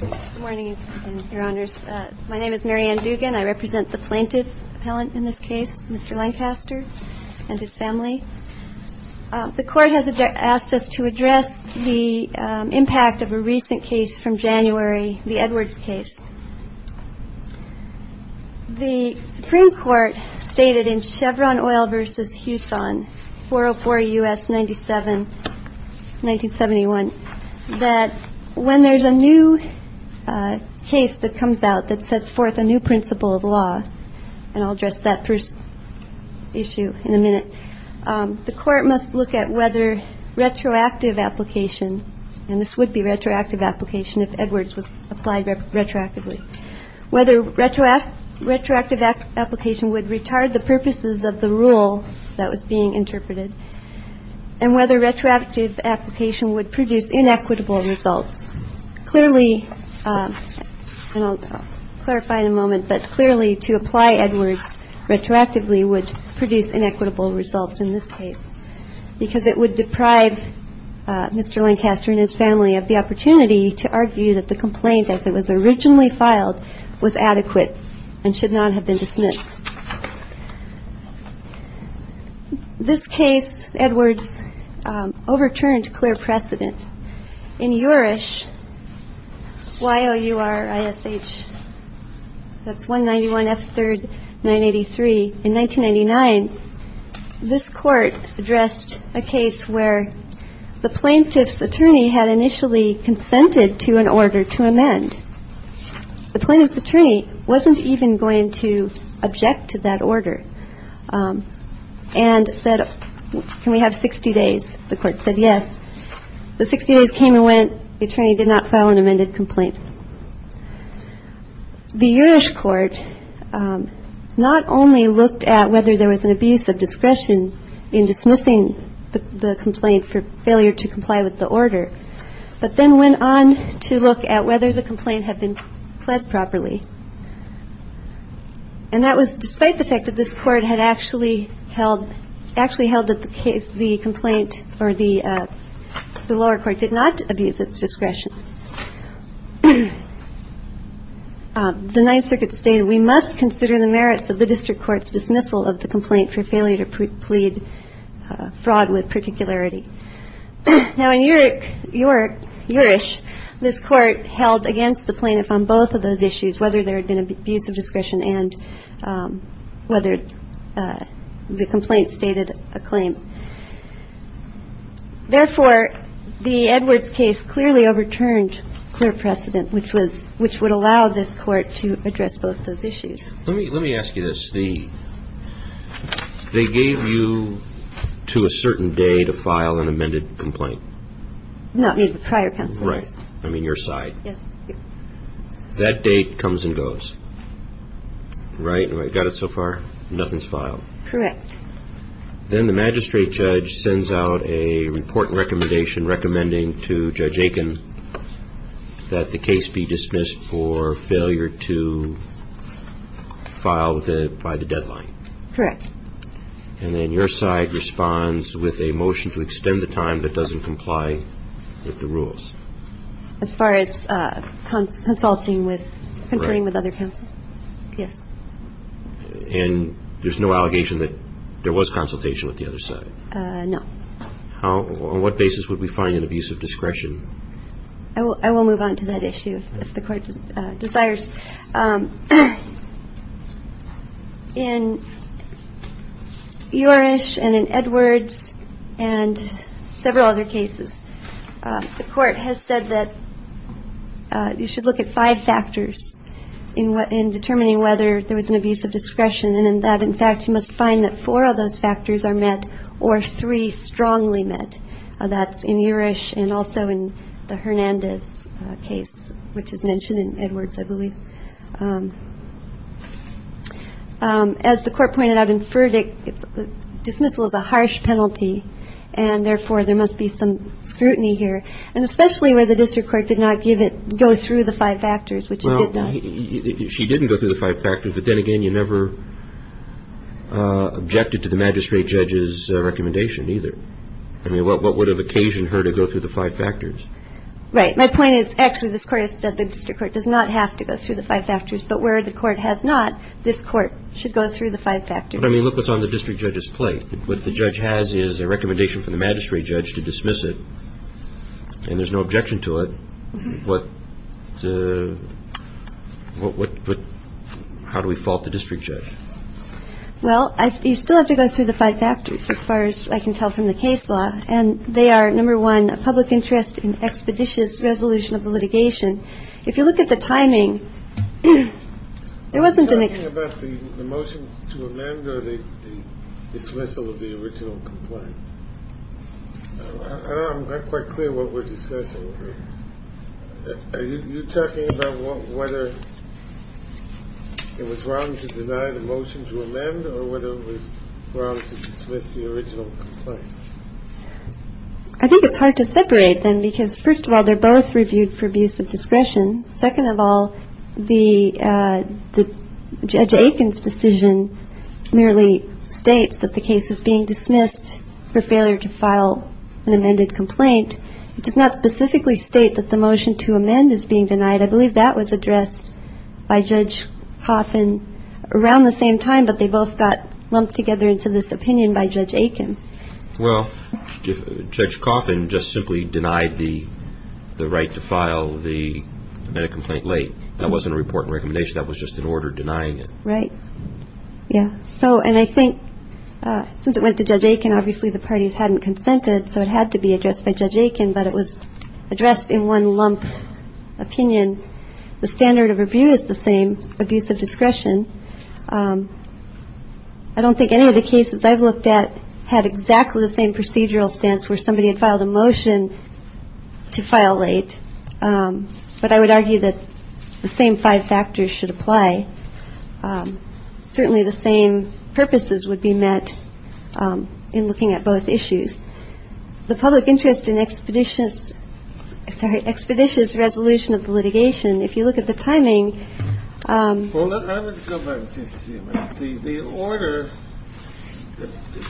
Good morning, your honors. My name is Mary Ann Dugan. I represent the plaintiff appellant in this case, Mr. Lancaster and his family. The court has asked us to address the impact of a recent case from January, the Edwards case. The Supreme Court stated in Chevron Oil v. Houson, 404 U.S. 97, 1971, that when there's a new case that comes out that sets forth a new principle of law, and I'll address that first issue in a minute, the court must look at whether retroactive application, and this would be retroactive application if Edwards was applied retroactively, whether retroactive application would retard the purposes of the rule that was being interpreted, and whether retroactive application would produce inequitable results. Clearly, and I'll clarify in a moment, but clearly to apply Edwards retroactively would produce inequitable results in this case, because it would deprive Mr. Lancaster and his family of the opportunity to argue that the complaint as it was originally filed was In Eurish, Y-O-U-R-I-S-H, that's 191 F. 3rd, 983, in 1999, this court addressed a case where the plaintiff's attorney had initially consented to an order to amend. The plaintiff's attorney wasn't even going to object to that order and said, can we have 60 days? The court said yes. The 60 days came and went, the attorney did not file an amended complaint. The Eurish court not only looked at whether there was an abuse of discretion in dismissing the complaint for failure to comply with the order, but then went on to look at whether the complaint had been pled properly. And that was despite the fact that this court had actually held, actually held that the case, the complaint, or the lower court did not abuse its discretion. The Ninth Circuit stated, we must consider the merits of the district court's dismissal of the complaint for failure to plead fraud with particularity. Now in Eurish, this court held against the plaintiff on both of those issues, whether there had been abuse of discretion and whether the complaint stated a claim. Therefore, the Edwards case clearly overturned clear precedent, which was, which would allow this court to address both those issues. Let me, let me ask you this. The, they gave you to a certain day to file an amended complaint. Not me, the prior counsel. Right. I mean, your side. Yes. That date comes and goes, right? And I got it so far. Nothing's filed. Correct. Then the magistrate judge sends out a report and recommendation recommending to Judge Aiken that the case be dismissed for failure to file the, by the deadline. Correct. And then your side responds with a motion to extend the time that doesn't comply with the rules. As far as consulting with, conferring with other counsel. Yes. And there's no allegation that there was consultation with the other side? No. How, on what basis would we find an abuse of discretion? I will, I will move on to that issue if the court desires. In Eurish and in Edwards and several other cases, the court has said that you should look at five factors in determining whether there was an abuse of discretion. And in that, in fact, you must find that four of those factors are met or three strongly met. That's in Eurish and also in the Hernandez case, which is mentioned in Edwards, I believe. As the court pointed out in verdict, dismissal is a harsh penalty. And therefore, there must be some scrutiny here. And especially where the district court did not give it, go through the five factors, which it did not. She didn't go through the five factors. But then again, you never objected to the magistrate judge's recommendation either. I mean, what would have occasioned her to go through the five factors? Right. My point is, actually, this court has said the district court does not have to go through the five factors. But where the court has not, this court should go through the five factors. But I mean, look what's on the district judge's plate. What the judge has is a recommendation from the magistrate judge to dismiss it. And there's no objection to it. What, what, how do we fault the district judge? Well, you still have to go through the five factors, as far as I can tell from the case law. And they are, number one, a public interest in expeditious resolution of the litigation. If you look at the timing, there wasn't an. About the motion to amend or the dismissal of the original complaint. I'm not quite clear what we're discussing. Are you talking about whether it was wrong to deny the motion to amend or whether it was wrong to dismiss the original complaint? I think it's hard to separate them because, first of all, they're both reviewed for abuse of discretion. Second of all, the judge Aiken's decision merely states that the case is being dismissed for failure to file an amended complaint. It does not specifically state that the motion to amend is being denied. I believe that was addressed by Judge Coffin around the same time, but they both got lumped together into this opinion by Judge Aiken. Well, Judge Coffin just simply denied the right to file the amended complaint late. That wasn't a report and recommendation. That was just an order denying it. Right. Yeah. So and I think since it went to Judge Aiken, obviously the parties hadn't consented. So it had to be addressed by Judge Aiken. But it was addressed in one lump opinion. The standard of review is the same abuse of discretion. I don't think any of the cases I've looked at had exactly the same procedural stance where somebody had filed a motion to file late. But I would argue that the same five factors should apply. Certainly the same purposes would be met in looking at both issues. The public interest in expeditious expeditious resolution of litigation. If you look at the timing, the order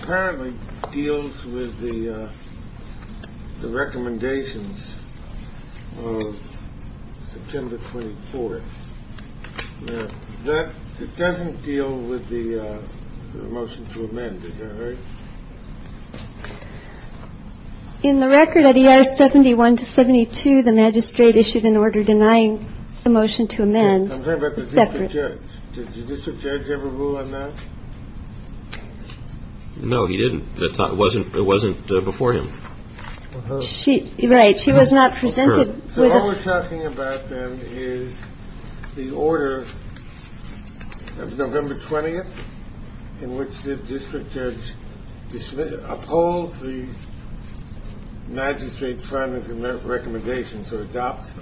apparently deals with the recommendations of September 24th that it doesn't deal with the motion to amend. In the record that he has 71 to 72, the magistrate issued an order denying the motion to amend separate. Did the district judge ever rule on that? No, he didn't. That wasn't it wasn't before him. She. Right. She was not presented. So what we're talking about then is the order of November 20th in which the district judge opposed the magistrate's recommendations or adopts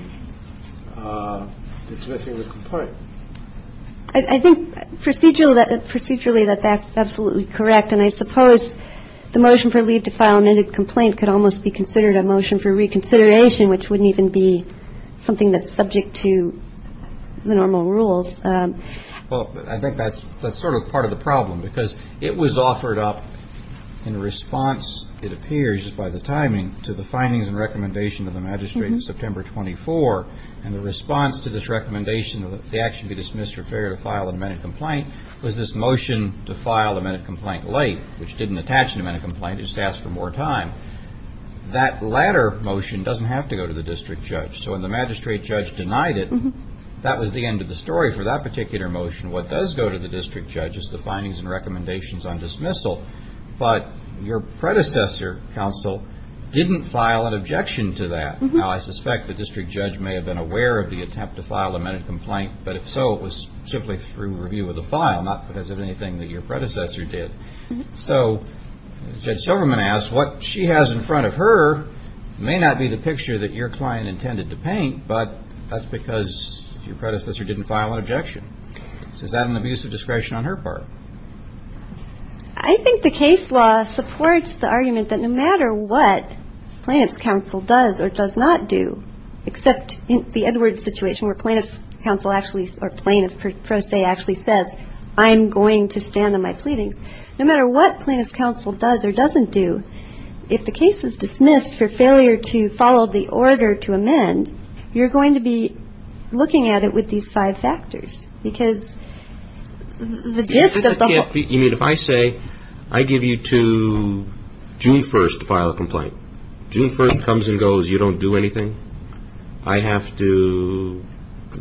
dismissing the complaint. I think procedural that procedurally that's absolutely correct. And I suppose the motion for leave to file an amended complaint could almost be considered a motion for reconsideration, which wouldn't even be something that's subject to the normal rules. Well, I think that's that's sort of part of the problem, because it was offered up in response, it appears by the timing to the findings and recommendation of the magistrate in September 24. And the response to this recommendation of the action to be dismissed or failure to file an amended complaint was this motion to file an amended complaint late, which didn't attach an amended complaint, it just asked for more time. That latter motion doesn't have to go to the district judge. So when the magistrate judge denied it, that was the end of the story for that particular motion. What does go to the district judge is the findings and recommendations on dismissal. But your predecessor counsel didn't file an objection to that. Now, I suspect the district judge may have been aware of the attempt to file an amended complaint. But if so, it was simply through review of the file, not because of anything that your predecessor did. So Judge Silverman asked what she has in front of her may not be the picture that your client intended to paint, but that's because your predecessor didn't file an objection. Is that an abuse of discretion on her part? I think the case law supports the argument that no matter what plaintiff's counsel does or does not do, except in the Edwards situation where plaintiff's counsel actually or plaintiff per se actually says, I'm going to stand on my pleadings. No matter what plaintiff's counsel does or doesn't do, if the case is dismissed for failure to follow the order to amend, you're going to be looking at it with these five factors. Because the gist of the whole... You mean if I say, I give you to June 1st to file a complaint, June 1st comes and goes, you don't do anything, I have to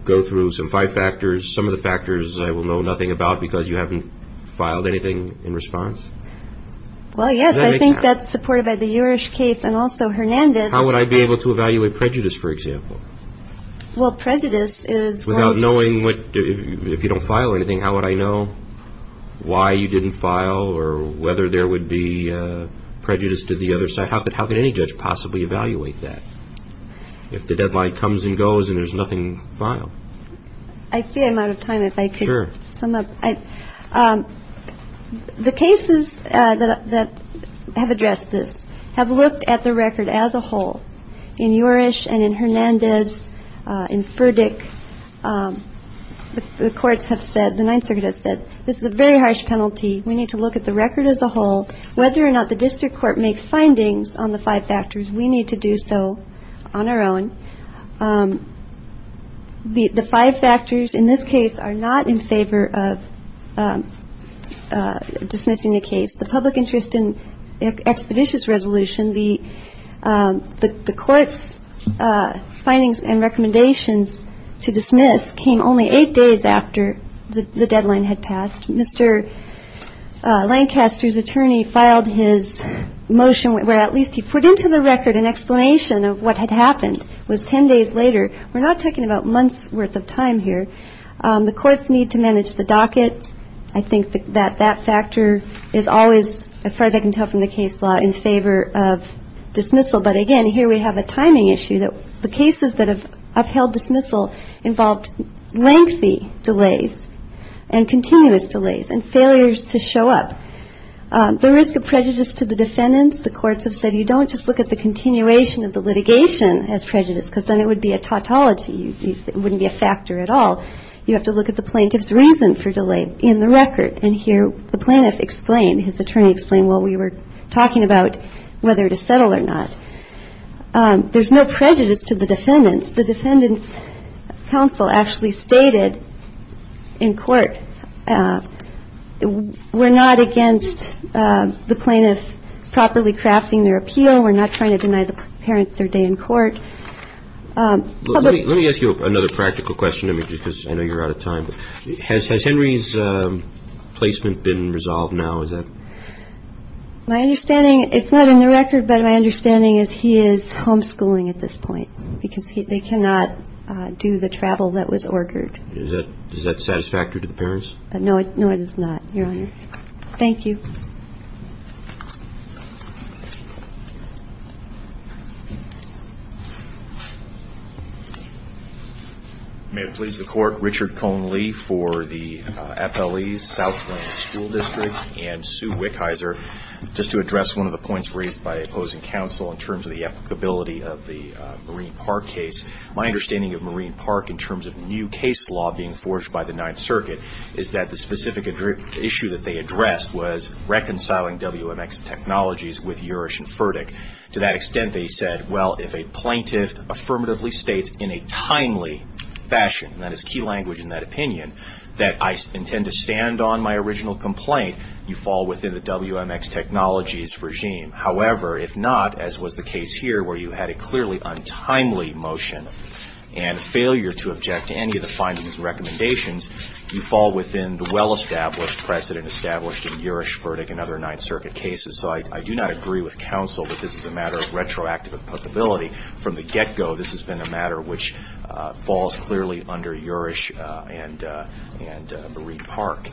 go through some five factors, some of the factors I will know nothing about because you haven't filed anything in response? Well, yes, I think that's supported by the Jurich case and also Hernandez. How would I be able to evaluate prejudice, for example? Well, prejudice is... Without knowing, if you don't file anything, how would I know why you didn't file or whether there would be prejudice to the other side? How could any judge possibly evaluate that if the deadline comes and goes and there's nothing filed? I see I'm out of time. Sure. The cases that have addressed this have looked at the record as a whole. In Jurich and in Hernandez, in Furdick, the courts have said, the Ninth Circuit has said, this is a very harsh penalty. We need to look at the record as a whole. Whether or not the district court makes findings on the five factors, we need to do so on our own. The five factors in this case are not in favor of dismissing the case. The public interest in expeditious resolution, the court's findings and recommendations to dismiss came only eight days after the deadline had passed. Mr. Lancaster's attorney filed his motion where at least he put into the record an explanation of what had happened. It was ten days later. We're not talking about months' worth of time here. The courts need to manage the docket. I think that that factor is always, as far as I can tell from the case law, in favor of dismissal. But again, here we have a timing issue that the cases that have upheld dismissal involved lengthy delays and continuous delays and failures to show up. The risk of prejudice to the defendants, the courts have said, you don't just look at the continuation of the litigation as prejudice, because then it would be a tautology. It wouldn't be a factor at all. You have to look at the plaintiff's reason for delay in the record. And here the plaintiff explained, his attorney explained what we were talking about, whether to settle or not. There's no prejudice to the defendants. The defendants' counsel actually stated in court, we're not against the plaintiff properly crafting their appeal. We're not trying to deny the parents their day in court. Let me ask you another practical question, because I know you're out of time. Has Henry's placement been resolved now? Is that? My understanding, it's not in the record, but my understanding is he is homeschooling at this point, because they cannot do the travel that was ordered. Is that satisfactory to the parents? No, it is not, Your Honor. Thank you. May it please the Court. Richard Cone Lee for the FLE's Southland School District, and Sue Wickheiser. Just to address one of the points raised by opposing counsel in terms of the applicability of the Marine Park case, my understanding of Marine Park in terms of new case law being forged by the Ninth Circuit is that the specific issue that they addressed was reconciling WMX Technologies with Juris and Furtick. To that extent, they said, well, if a plaintiff affirmatively states in a timely fashion, and that is key language in that opinion, that I intend to stand on my original complaint, you fall within the WMX Technologies regime. However, if not, as was the case here where you had a clearly untimely motion you fall within the well-established precedent established in Juris, Furtick, and other Ninth Circuit cases. So I do not agree with counsel that this is a matter of retroactive applicability. From the get-go, this has been a matter which falls clearly under Juris and Marine Park.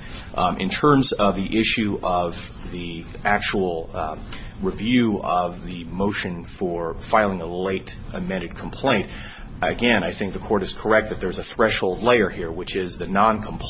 In terms of the issue of the actual review of the motion for filing a late amended complaint, again, I think the court is correct that there is a threshold layer here, which is the noncompliance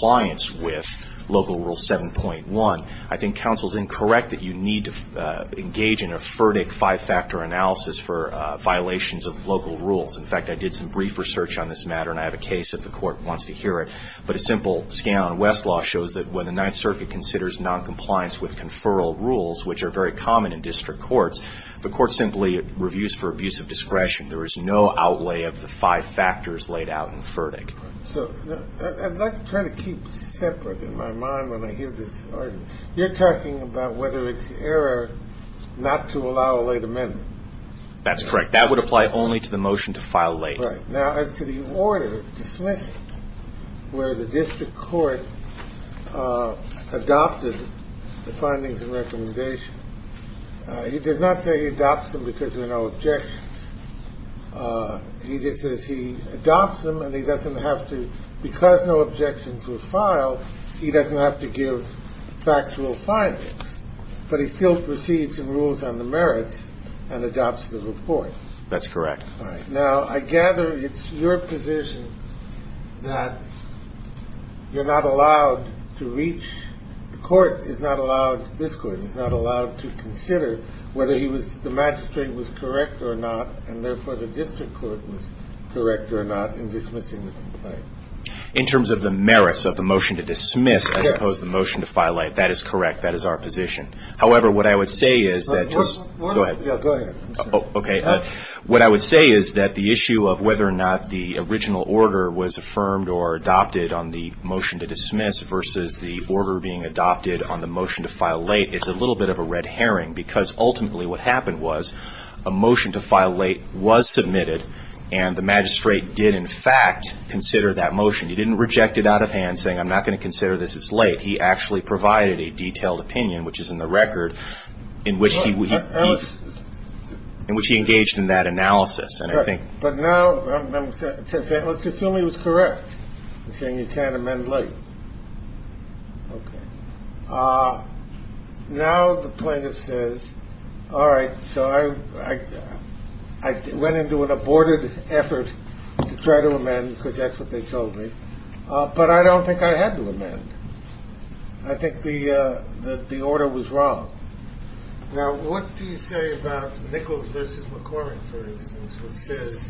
with Local Rule 7.1. I think counsel is incorrect that you need to engage in a Furtick five-factor analysis for violations of local rules. In fact, I did some brief research on this matter, and I have a case if the court wants to hear it. But a simple scan on Westlaw shows that when the Ninth Circuit considers noncompliance with conferral rules, which are very common in district courts, the court simply reviews for abuse of discretion. There is no outlay of the five factors laid out in Furtick. So I'd like to try to keep separate in my mind when I hear this argument. You're talking about whether it's error not to allow a late amendment. That's correct. That would apply only to the motion to file late. Right. Now, as to the order dismissed where the district court adopted the findings and recommendation, he does not say he adopts them because there are no objections. He just says he adopts them, and he doesn't have to – because no objections were filed, he doesn't have to give factual findings. But he still proceeds in rules on the merits and adopts the report. That's correct. All right. Now, I gather it's your position that you're not allowed to reach – the court is not allowed – to consider whether he was – the magistrate was correct or not, and therefore the district court was correct or not in dismissing the complaint. In terms of the merits of the motion to dismiss, I suppose the motion to file late, that is correct. That is our position. However, what I would say is that just – Go ahead. Yeah, go ahead. Okay. What I would say is that the issue of whether or not the original order was affirmed or adopted on the motion to dismiss versus the order being adopted on the motion to file late is a little bit of a red herring, because ultimately what happened was a motion to file late was submitted, and the magistrate did in fact consider that motion. He didn't reject it out of hand, saying I'm not going to consider this as late. He actually provided a detailed opinion, which is in the record, in which he engaged in that analysis. But now let's assume he was correct in saying you can't amend late. Okay. Now the plaintiff says, all right, so I went into an aborted effort to try to amend, because that's what they told me, but I don't think I had to amend. I think the order was wrong. Now what do you say about Nichols v. McCormick, for instance, which says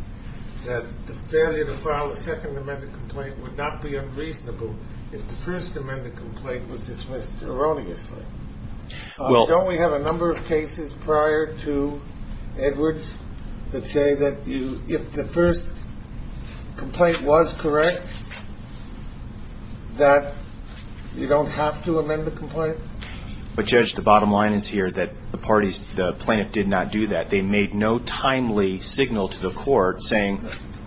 that the failure to file a second amended complaint would not be unreasonable if the first amended complaint was dismissed erroneously? Don't we have a number of cases prior to Edwards that say that if the first complaint was correct, But Judge, the bottom line is here that the plaintiff did not do that. They made no timely signal to the court saying,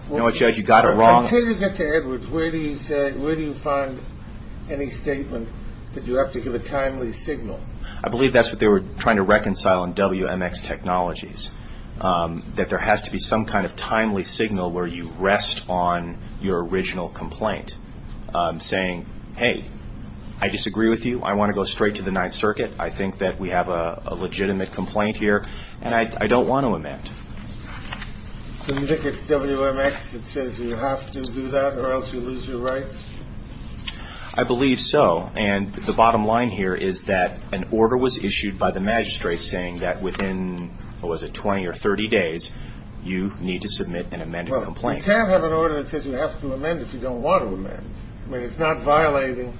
you know what, Judge, you got it wrong. Until you get to Edwards, where do you find any statement that you have to give a timely signal? I believe that's what they were trying to reconcile in WMX Technologies, that there has to be some kind of timely signal where you rest on your original complaint, saying, hey, I disagree with you. I want to go straight to the Ninth Circuit. I think that we have a legitimate complaint here, and I don't want to amend. So you think it's WMX that says you have to do that or else you lose your rights? I believe so. And the bottom line here is that an order was issued by the magistrate saying that within, what was it, 20 or 30 days, you need to submit an amended complaint. You can't have an order that says you have to amend if you don't want to amend. I mean, it's not violating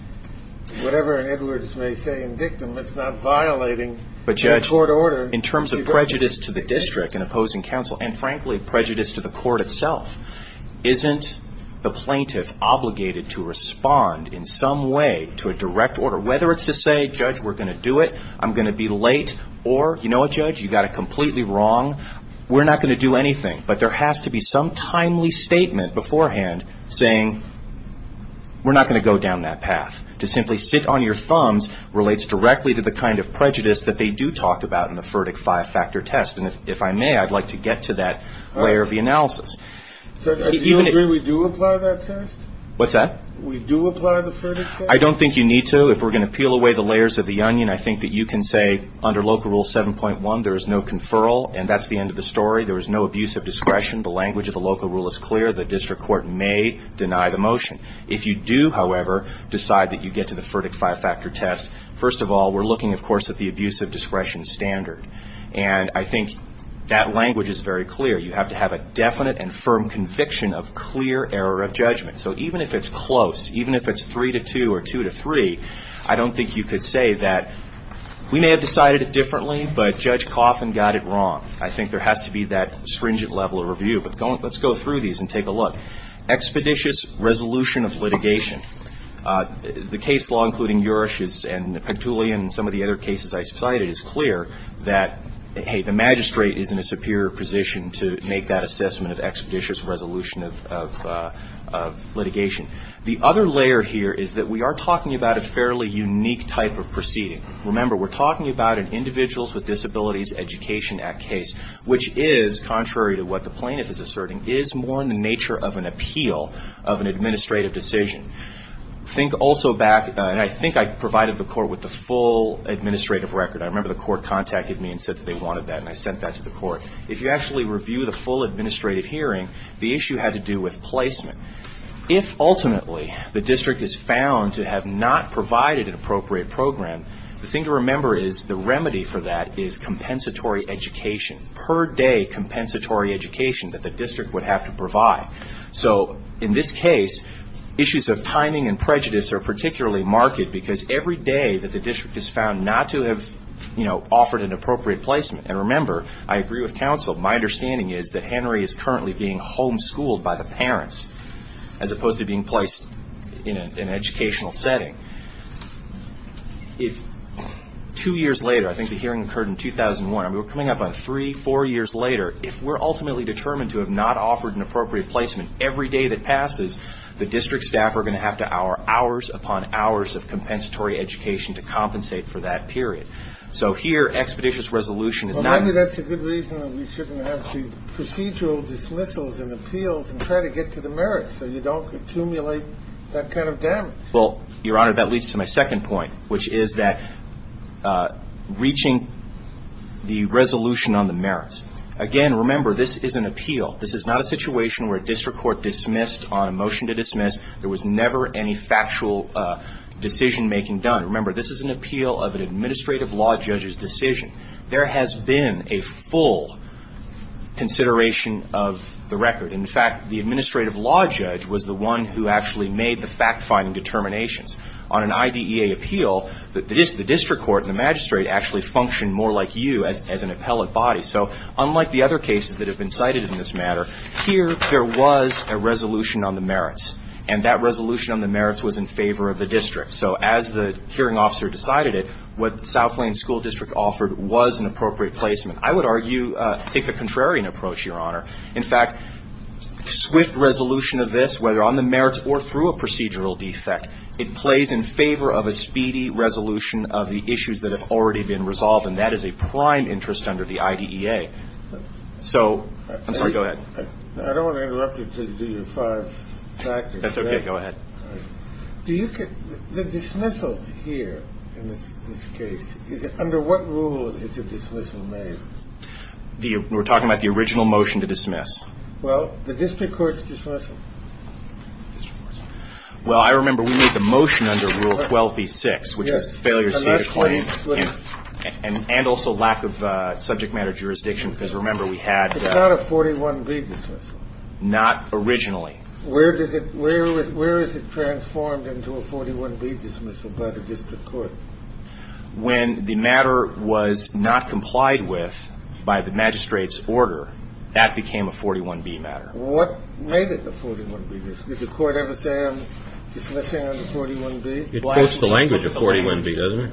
whatever an Edwards may say in dictum. It's not violating the court order. But, Judge, in terms of prejudice to the district in opposing counsel, and, frankly, prejudice to the court itself, isn't the plaintiff obligated to respond in some way to a direct order? Whether it's to say, Judge, we're going to do it, I'm going to be late, or, you know what, Judge, you got it completely wrong, we're not going to do anything. But there has to be some timely statement beforehand saying we're not going to go down that path. To simply sit on your thumbs relates directly to the kind of prejudice that they do talk about in the FURDIC five-factor test. And if I may, I'd like to get to that layer of the analysis. Judge, do you agree we do apply that test? What's that? We do apply the FURDIC test? I don't think you need to. If we're going to peel away the layers of the onion, I think that you can say, under Local Rule 7.1, there is no conferral, and that's the end of the story. There is no abuse of discretion. The language of the Local Rule is clear. The district court may deny the motion. If you do, however, decide that you get to the FURDIC five-factor test, first of all, we're looking, of course, at the abuse of discretion standard. And I think that language is very clear. You have to have a definite and firm conviction of clear error of judgment. So even if it's close, even if it's three to two or two to three, I don't think you could say that we may have decided it differently, but Judge Cawthon got it wrong. I think there has to be that stringent level of review. But let's go through these and take a look. Expeditious resolution of litigation. The case law, including Juris and Petulian and some of the other cases I cited, is clear that, hey, the magistrate is in a superior position to make that assessment of expeditious resolution of litigation. The other layer here is that we are talking about a fairly unique type of proceeding. Remember, we're talking about an Individuals with Disabilities Education Act case, which is, contrary to what the plaintiff is asserting, is more in the nature of an appeal of an administrative decision. Think also back, and I think I provided the court with the full administrative record. I remember the court contacted me and said that they wanted that, and I sent that to the court. If you actually review the full administrative hearing, the issue had to do with placement. If, ultimately, the district is found to have not provided an appropriate program, the thing to remember is the remedy for that is compensatory education, per-day compensatory education that the district would have to provide. So in this case, issues of timing and prejudice are particularly marked because every day that the district is found not to have offered an appropriate placement, and remember, I agree with counsel, my understanding is that Henry is currently being homeschooled by the parents, as opposed to being placed in an educational setting. Two years later, I think the hearing occurred in 2001, we're coming up on three, four years later, if we're ultimately determined to have not offered an appropriate placement every day that passes, the district staff are going to have to hour hours upon hours of compensatory education to compensate for that period. So here, expeditious resolution is not. Well, maybe that's a good reason that we shouldn't have the procedural dismissals and appeals and try to get to the merits so you don't accumulate that kind of damage. Well, Your Honor, that leads to my second point, which is that reaching the resolution on the merits, again, remember, this is an appeal. This is not a situation where a district court dismissed on a motion to dismiss. There was never any factual decision-making done. Remember, this is an appeal of an administrative law judge's decision. There has been a full consideration of the record. In fact, the administrative law judge was the one who actually made the fact-finding determinations. On an IDEA appeal, the district court and the magistrate actually functioned more like you as an appellate body. So unlike the other cases that have been cited in this matter, here there was a resolution on the merits, and that resolution on the merits was in favor of the district. So as the hearing officer decided it, what South Lane School District offered was an appropriate placement. I would argue, I think, the contrarian approach, Your Honor. In fact, swift resolution of this, whether on the merits or through a procedural defect, it plays in favor of a speedy resolution of the issues that have already been resolved, and that is a prime interest under the IDEA. So go ahead. I don't want to interrupt you until you do your five factors. That's okay. Go ahead. All right. The dismissal here in this case, under what rule is the dismissal made? We're talking about the original motion to dismiss. Well, the district court's dismissal. Well, I remember we made the motion under Rule 12b-6, which was failure to state a claim. Yes. And also lack of subject matter jurisdiction, because remember, we had a 41b dismissal. Not originally. Where is it transformed into a 41b dismissal by the district court? When the matter was not complied with by the magistrate's order, that became a 41b matter. What made it a 41b dismissal? Did the court ever say, I'm dismissing under 41b? It quotes the language of 41b, doesn't it?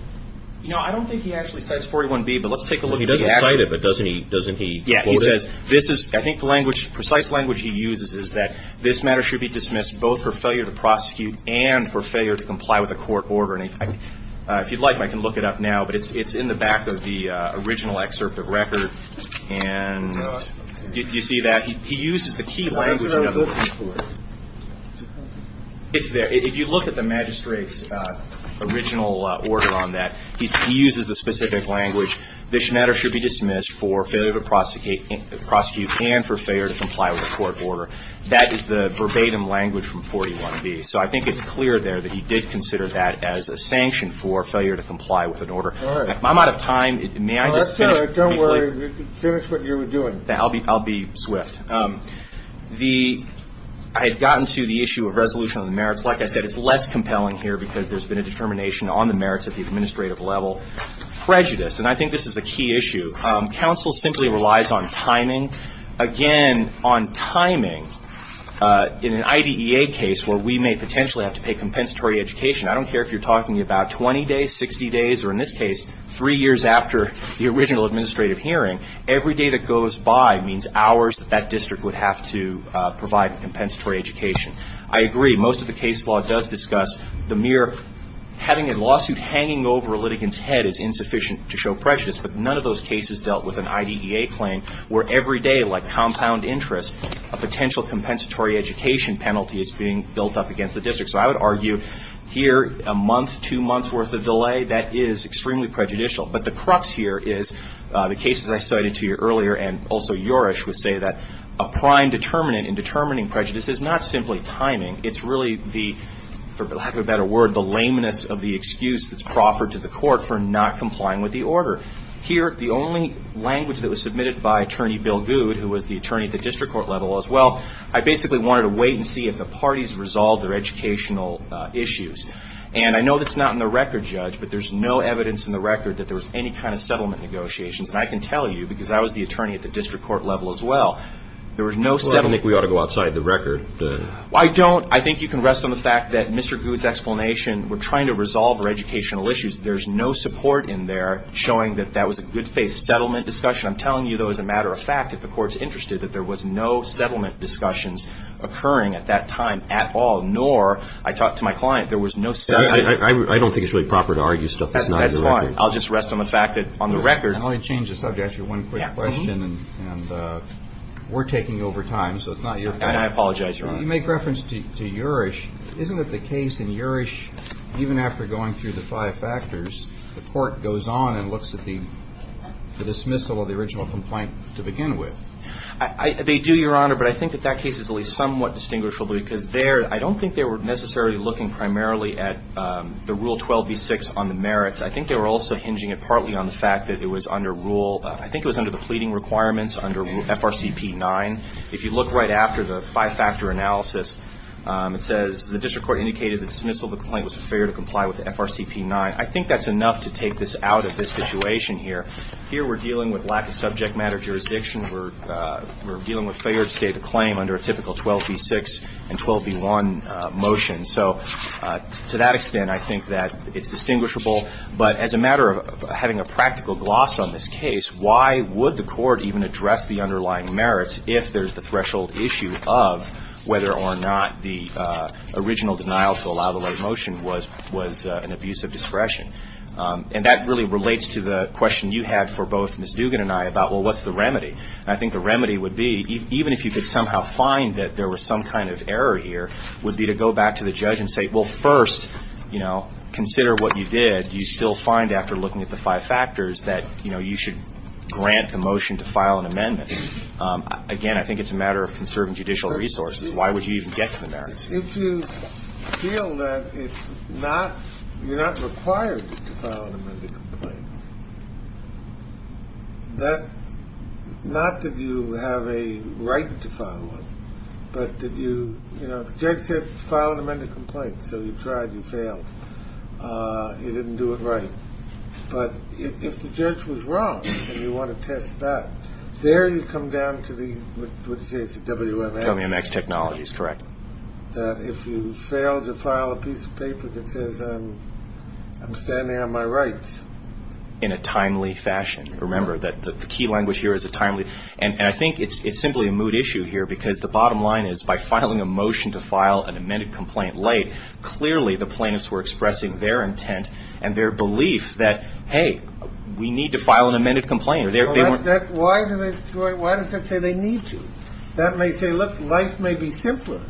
No, I don't think he actually cites 41b, but let's take a look. He doesn't cite it, but doesn't he quote it? Yes. He says, this is, I think the language, the precise language he uses is that this matter should be dismissed both for failure to prosecute and for failure to comply with a court order. If you'd like, I can look it up now, but it's in the back of the original excerpt of record. And you see that? He uses the key language. If you look at the magistrate's original order on that, he uses the specific language. This matter should be dismissed for failure to prosecute and for failure to comply with a court order. That is the verbatim language from 41b. So I think it's clear there that he did consider that as a sanction for failure to comply with an order. All right. I'm out of time. May I just finish briefly? Don't worry. Finish what you were doing. I'll be swift. The – I had gotten to the issue of resolution of the merits. Like I said, it's less compelling here because there's been a determination on the merits at the administrative level. Prejudice. And I think this is a key issue. Counsel simply relies on timing. Again, on timing, in an IDEA case where we may potentially have to pay compensatory education, I don't care if you're talking about 20 days, 60 days, or in this case three years after the original administrative hearing, every day that goes by means hours that that district would have to provide a compensatory education. I agree. Most of the case law does discuss the mere having a lawsuit hanging over a litigant's head is insufficient to show prejudice, but none of those cases dealt with an IDEA claim where every day, like compound interest, a potential compensatory education penalty is being built up against the district. So I would argue here a month, two months' worth of delay, that is extremely prejudicial. But the crux here is the cases I cited to you earlier, and also Joris would say that a prime determinant in determining prejudice is not simply timing. It's really the, for lack of a better word, the lameness of the excuse that's proffered to the court for not complying with the order. Here, the only language that was submitted by Attorney Bill Good, who was the attorney at the district court level as well, I basically wanted to wait and see if the parties resolved their educational issues. And I know that's not in the record, Judge, but there's no evidence in the record that there was any kind of settlement negotiations. And I can tell you, because I was the attorney at the district court level as well, there was no settlement. Well, I think we ought to go outside the record. Well, I don't. I think you can rest on the fact that Mr. Good's explanation, we're trying to resolve our educational issues. There's no support in there showing that that was a good-faith settlement discussion. I'm telling you, though, as a matter of fact, if the court's interested that there was no settlement discussions occurring at that time at all, nor I talked to my client, there was no settlement. I don't think it's really proper to argue stuff that's not in the record. That's fine. I'll just rest on the fact that on the record. Let me change the subject. I have one quick question, and we're taking over time, so it's not your fault. I apologize, Your Honor. You make reference to Urish. Isn't it the case in Urish, even after going through the five factors, the court goes on and looks at the dismissal of the original complaint to begin with? They do, Your Honor, but I think that that case is at least somewhat distinguishable because there, I don't think they were necessarily looking primarily at the Rule 12b-6 on the merits. I think they were also hinging it partly on the fact that it was under rule, I think it was under the pleading requirements under FRCP 9. If you look right after the five-factor analysis, it says, the district court indicated the dismissal of the complaint was a failure to comply with FRCP 9. I think that's enough to take this out of this situation here. Here we're dealing with lack of subject matter jurisdiction. We're dealing with failure to state a claim under a typical 12b-6 and 12b-1 motion. So to that extent, I think that it's distinguishable. But as a matter of having a practical gloss on this case, why would the court even address the underlying merits if there's the threshold issue of whether or not the original denial to allow the late motion was an abuse of discretion? And that really relates to the question you had for both Ms. Dugan and I about, well, what's the remedy? And I think the remedy would be, even if you could somehow find that there was some kind of error here, would be to go back to the judge and say, well, first, you know, consider what you did. And do you still find after looking at the five factors that, you know, you should grant the motion to file an amendment? Again, I think it's a matter of conserving judicial resources. Why would you even get to the merits? If you feel that it's not you're not required to file an amended complaint, that not that you have a right to file one, but that you, you know, the judge said file an amended complaint. So you tried. You failed. You didn't do it right. But if the judge was wrong and you want to test that, there you come down to the WMX. WMX technology is correct. If you fail to file a piece of paper that says I'm standing on my rights. In a timely fashion. Remember that the key language here is a timely. And I think it's simply a moot issue here because the bottom line is by filing a motion to file an amended complaint late, clearly the plaintiffs were expressing their intent and their belief that, hey, we need to file an amended complaint. Why does that say they need to? That may say, look, life may be simpler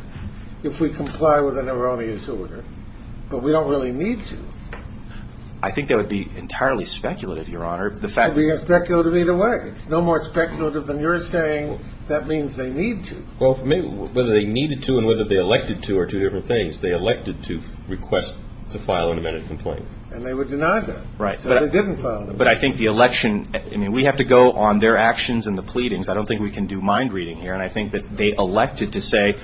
if we comply with an erroneous order, but we don't really need to. I think that would be entirely speculative, Your Honor. It would be speculative either way. It's no more speculative than you're saying that means they need to. Well, for me, whether they needed to and whether they elected to are two different things. They elected to request to file an amended complaint. And they would deny that. Right. So they didn't file it. But I think the election, I mean, we have to go on their actions and the pleadings. I don't think we can do mind reading here. And I think that they elected to say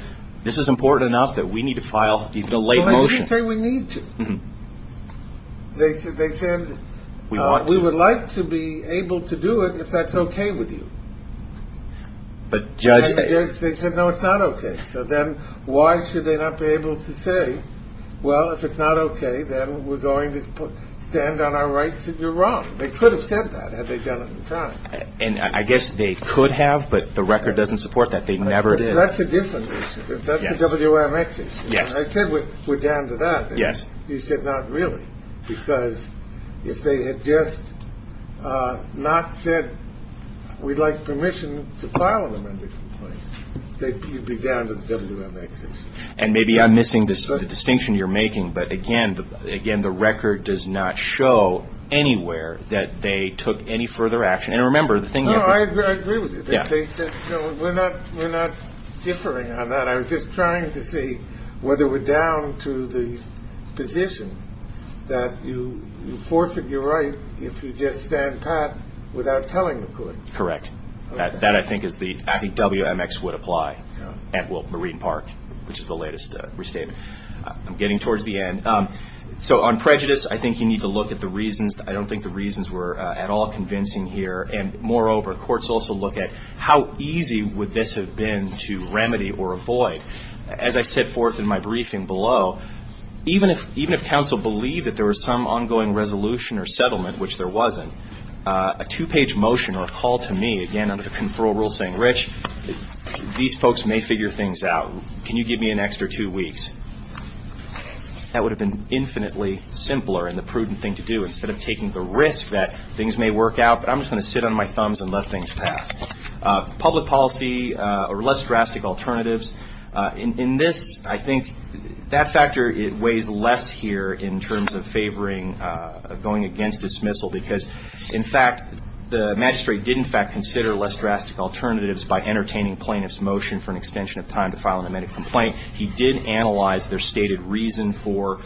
this is important enough that we need to file even a late motion. They didn't say we need to. They said they said we would like to be able to do it if that's OK with you. But judge, they said, no, it's not OK. So then why should they not be able to say, well, if it's not OK, then we're going to stand on our rights that you're wrong. They could have said that had they done it in time. And I guess they could have. But the record doesn't support that. They never did. That's a different issue. That's a WMX issue. Yes. Yes. And maybe I'm missing this distinction you're making. But again, again, the record does not show anywhere that they took any further action. And remember the thing. I agree with you. Yeah. We're not we're not differing on that. I was just trying to see whether we're down to the position that you forfeit your right if you just stand pat without telling the court. Correct. That I think is the WMX would apply at Marine Park, which is the latest restatement. I'm getting towards the end. So on prejudice, I think you need to look at the reasons. I don't think the reasons were at all convincing here. And moreover, courts also look at how easy would this have been to remedy or avoid. As I set forth in my briefing below, even if council believed that there was some ongoing resolution or settlement, which there wasn't, a two-page motion or a call to me, again, under the control rule saying, Rich, these folks may figure things out. Can you give me an extra two weeks? That would have been infinitely simpler and the prudent thing to do. Instead of taking the risk that things may work out, I'm just going to sit on my thumbs and let things pass. Public policy or less drastic alternatives. In this, I think that factor weighs less here in terms of favoring going against dismissal because, in fact, the magistrate did in fact consider less drastic alternatives by entertaining plaintiff's motion for an extension of time to file an amended complaint. He did analyze their stated reason for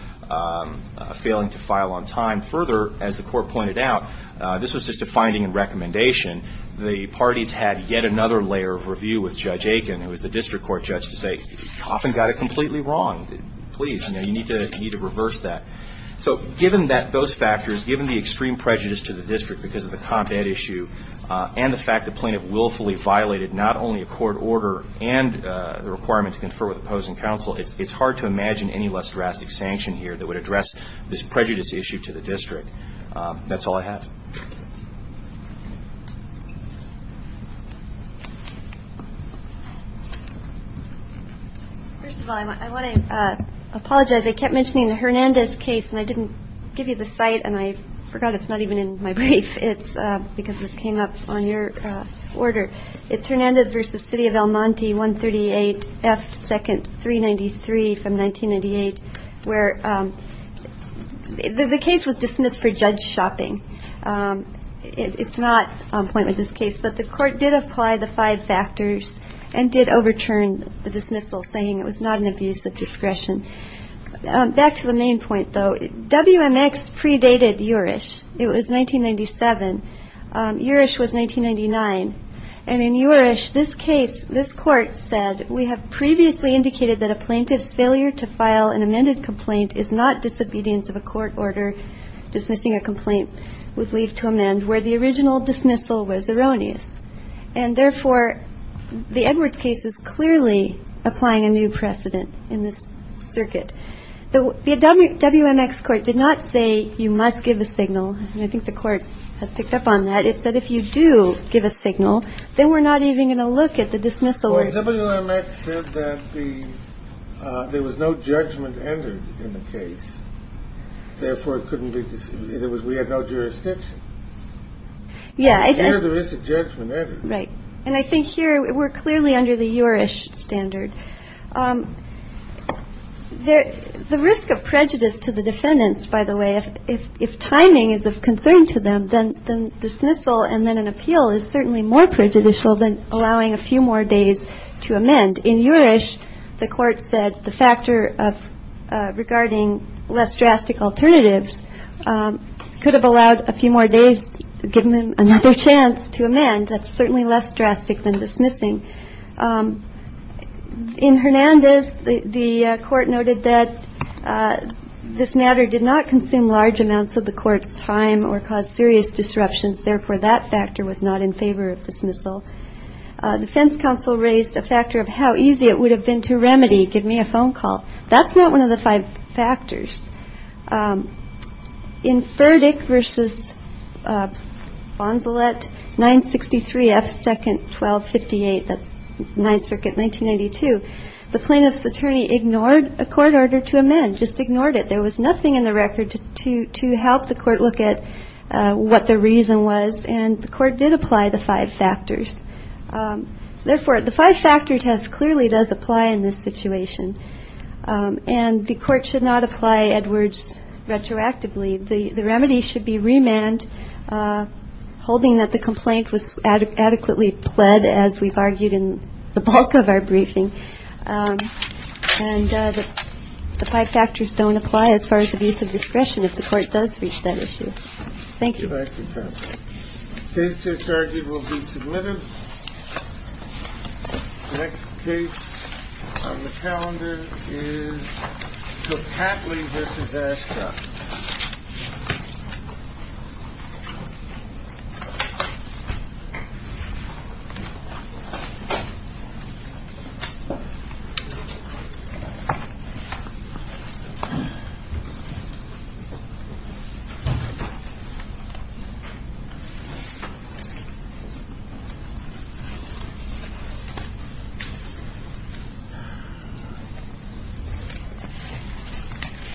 failing to file on time. Further, as the court pointed out, this was just a finding and recommendation. The parties had yet another layer of review with Judge Aiken, who was the district court judge, to say, Coffin got it completely wrong. Please, you need to reverse that. So given those factors, given the extreme prejudice to the district because of the combat issue and the fact the plaintiff willfully violated not only a court order and the requirement to confer with opposing counsel, it's hard to imagine any less drastic sanction here that would address this prejudice issue to the district. That's all I have. First of all, I want to apologize. I kept mentioning the Hernandez case, and I didn't give you the site, and I forgot it's not even in my brief. It's because this came up on your order. It's Hernandez v. City of El Monte, 138 F. 2nd, 393 from 1998, where the case was dismissed for judge shopping. It's not on point with this case, but the court did apply the five factors and did overturn the dismissal, saying it was not an abuse of discretion. Back to the main point, though. WMX predated Jurisch. It was 1997. Jurisch was 1999. And in Jurisch, this case, this court said, we have previously indicated that a plaintiff's failure to file an amended complaint is not disobedience of a court order dismissing a complaint with leave to amend where the original dismissal was erroneous. And therefore, the Edwards case is clearly applying a new precedent in this circuit. The WMX court did not say you must give a signal. And I think the court has picked up on that. It said if you do give a signal, then we're not even going to look at the dismissal. Well, the WMX said that there was no judgment entered in the case. Therefore, it couldn't be. We had no jurisdiction. Yeah. Here, there is a judgment entered. Right. And I think here, we're clearly under the Jurisch standard. The risk of prejudice to the defendants, by the way, if timing is of concern to them, then dismissal and then an appeal is certainly more prejudicial than allowing a few more days to amend. In Jurisch, the court said the factor of regarding less drastic alternatives could have allowed a few more days, given them another chance to amend. That's certainly less drastic than dismissing. In Hernandez, the court noted that this matter did not consume large amounts of the court's time or cause serious disruptions. Therefore, that factor was not in favor of dismissal. The defense counsel raised a factor of how easy it would have been to remedy. Give me a phone call. That's not one of the five factors. In Ferdick v. Bonzelet, 963 F. 2nd, 1258, that's Ninth Circuit, 1992, the plaintiff's attorney ignored a court order to amend, just ignored it. There was nothing in the record to help the court look at what the reason was, and the court did apply the five factors. Therefore, the five-factor test clearly does apply in this situation, and the court should not apply Edwards retroactively. The remedy should be remand, holding that the complaint was adequately pled, as we've argued in the bulk of our briefing, and the five factors don't apply as far as abuse of discretion if the court does reach that issue. Thank you. Thank you, Pat. Case discharge will be submitted. Next case on the calendar is Tocatli v. Ascot. Thank you.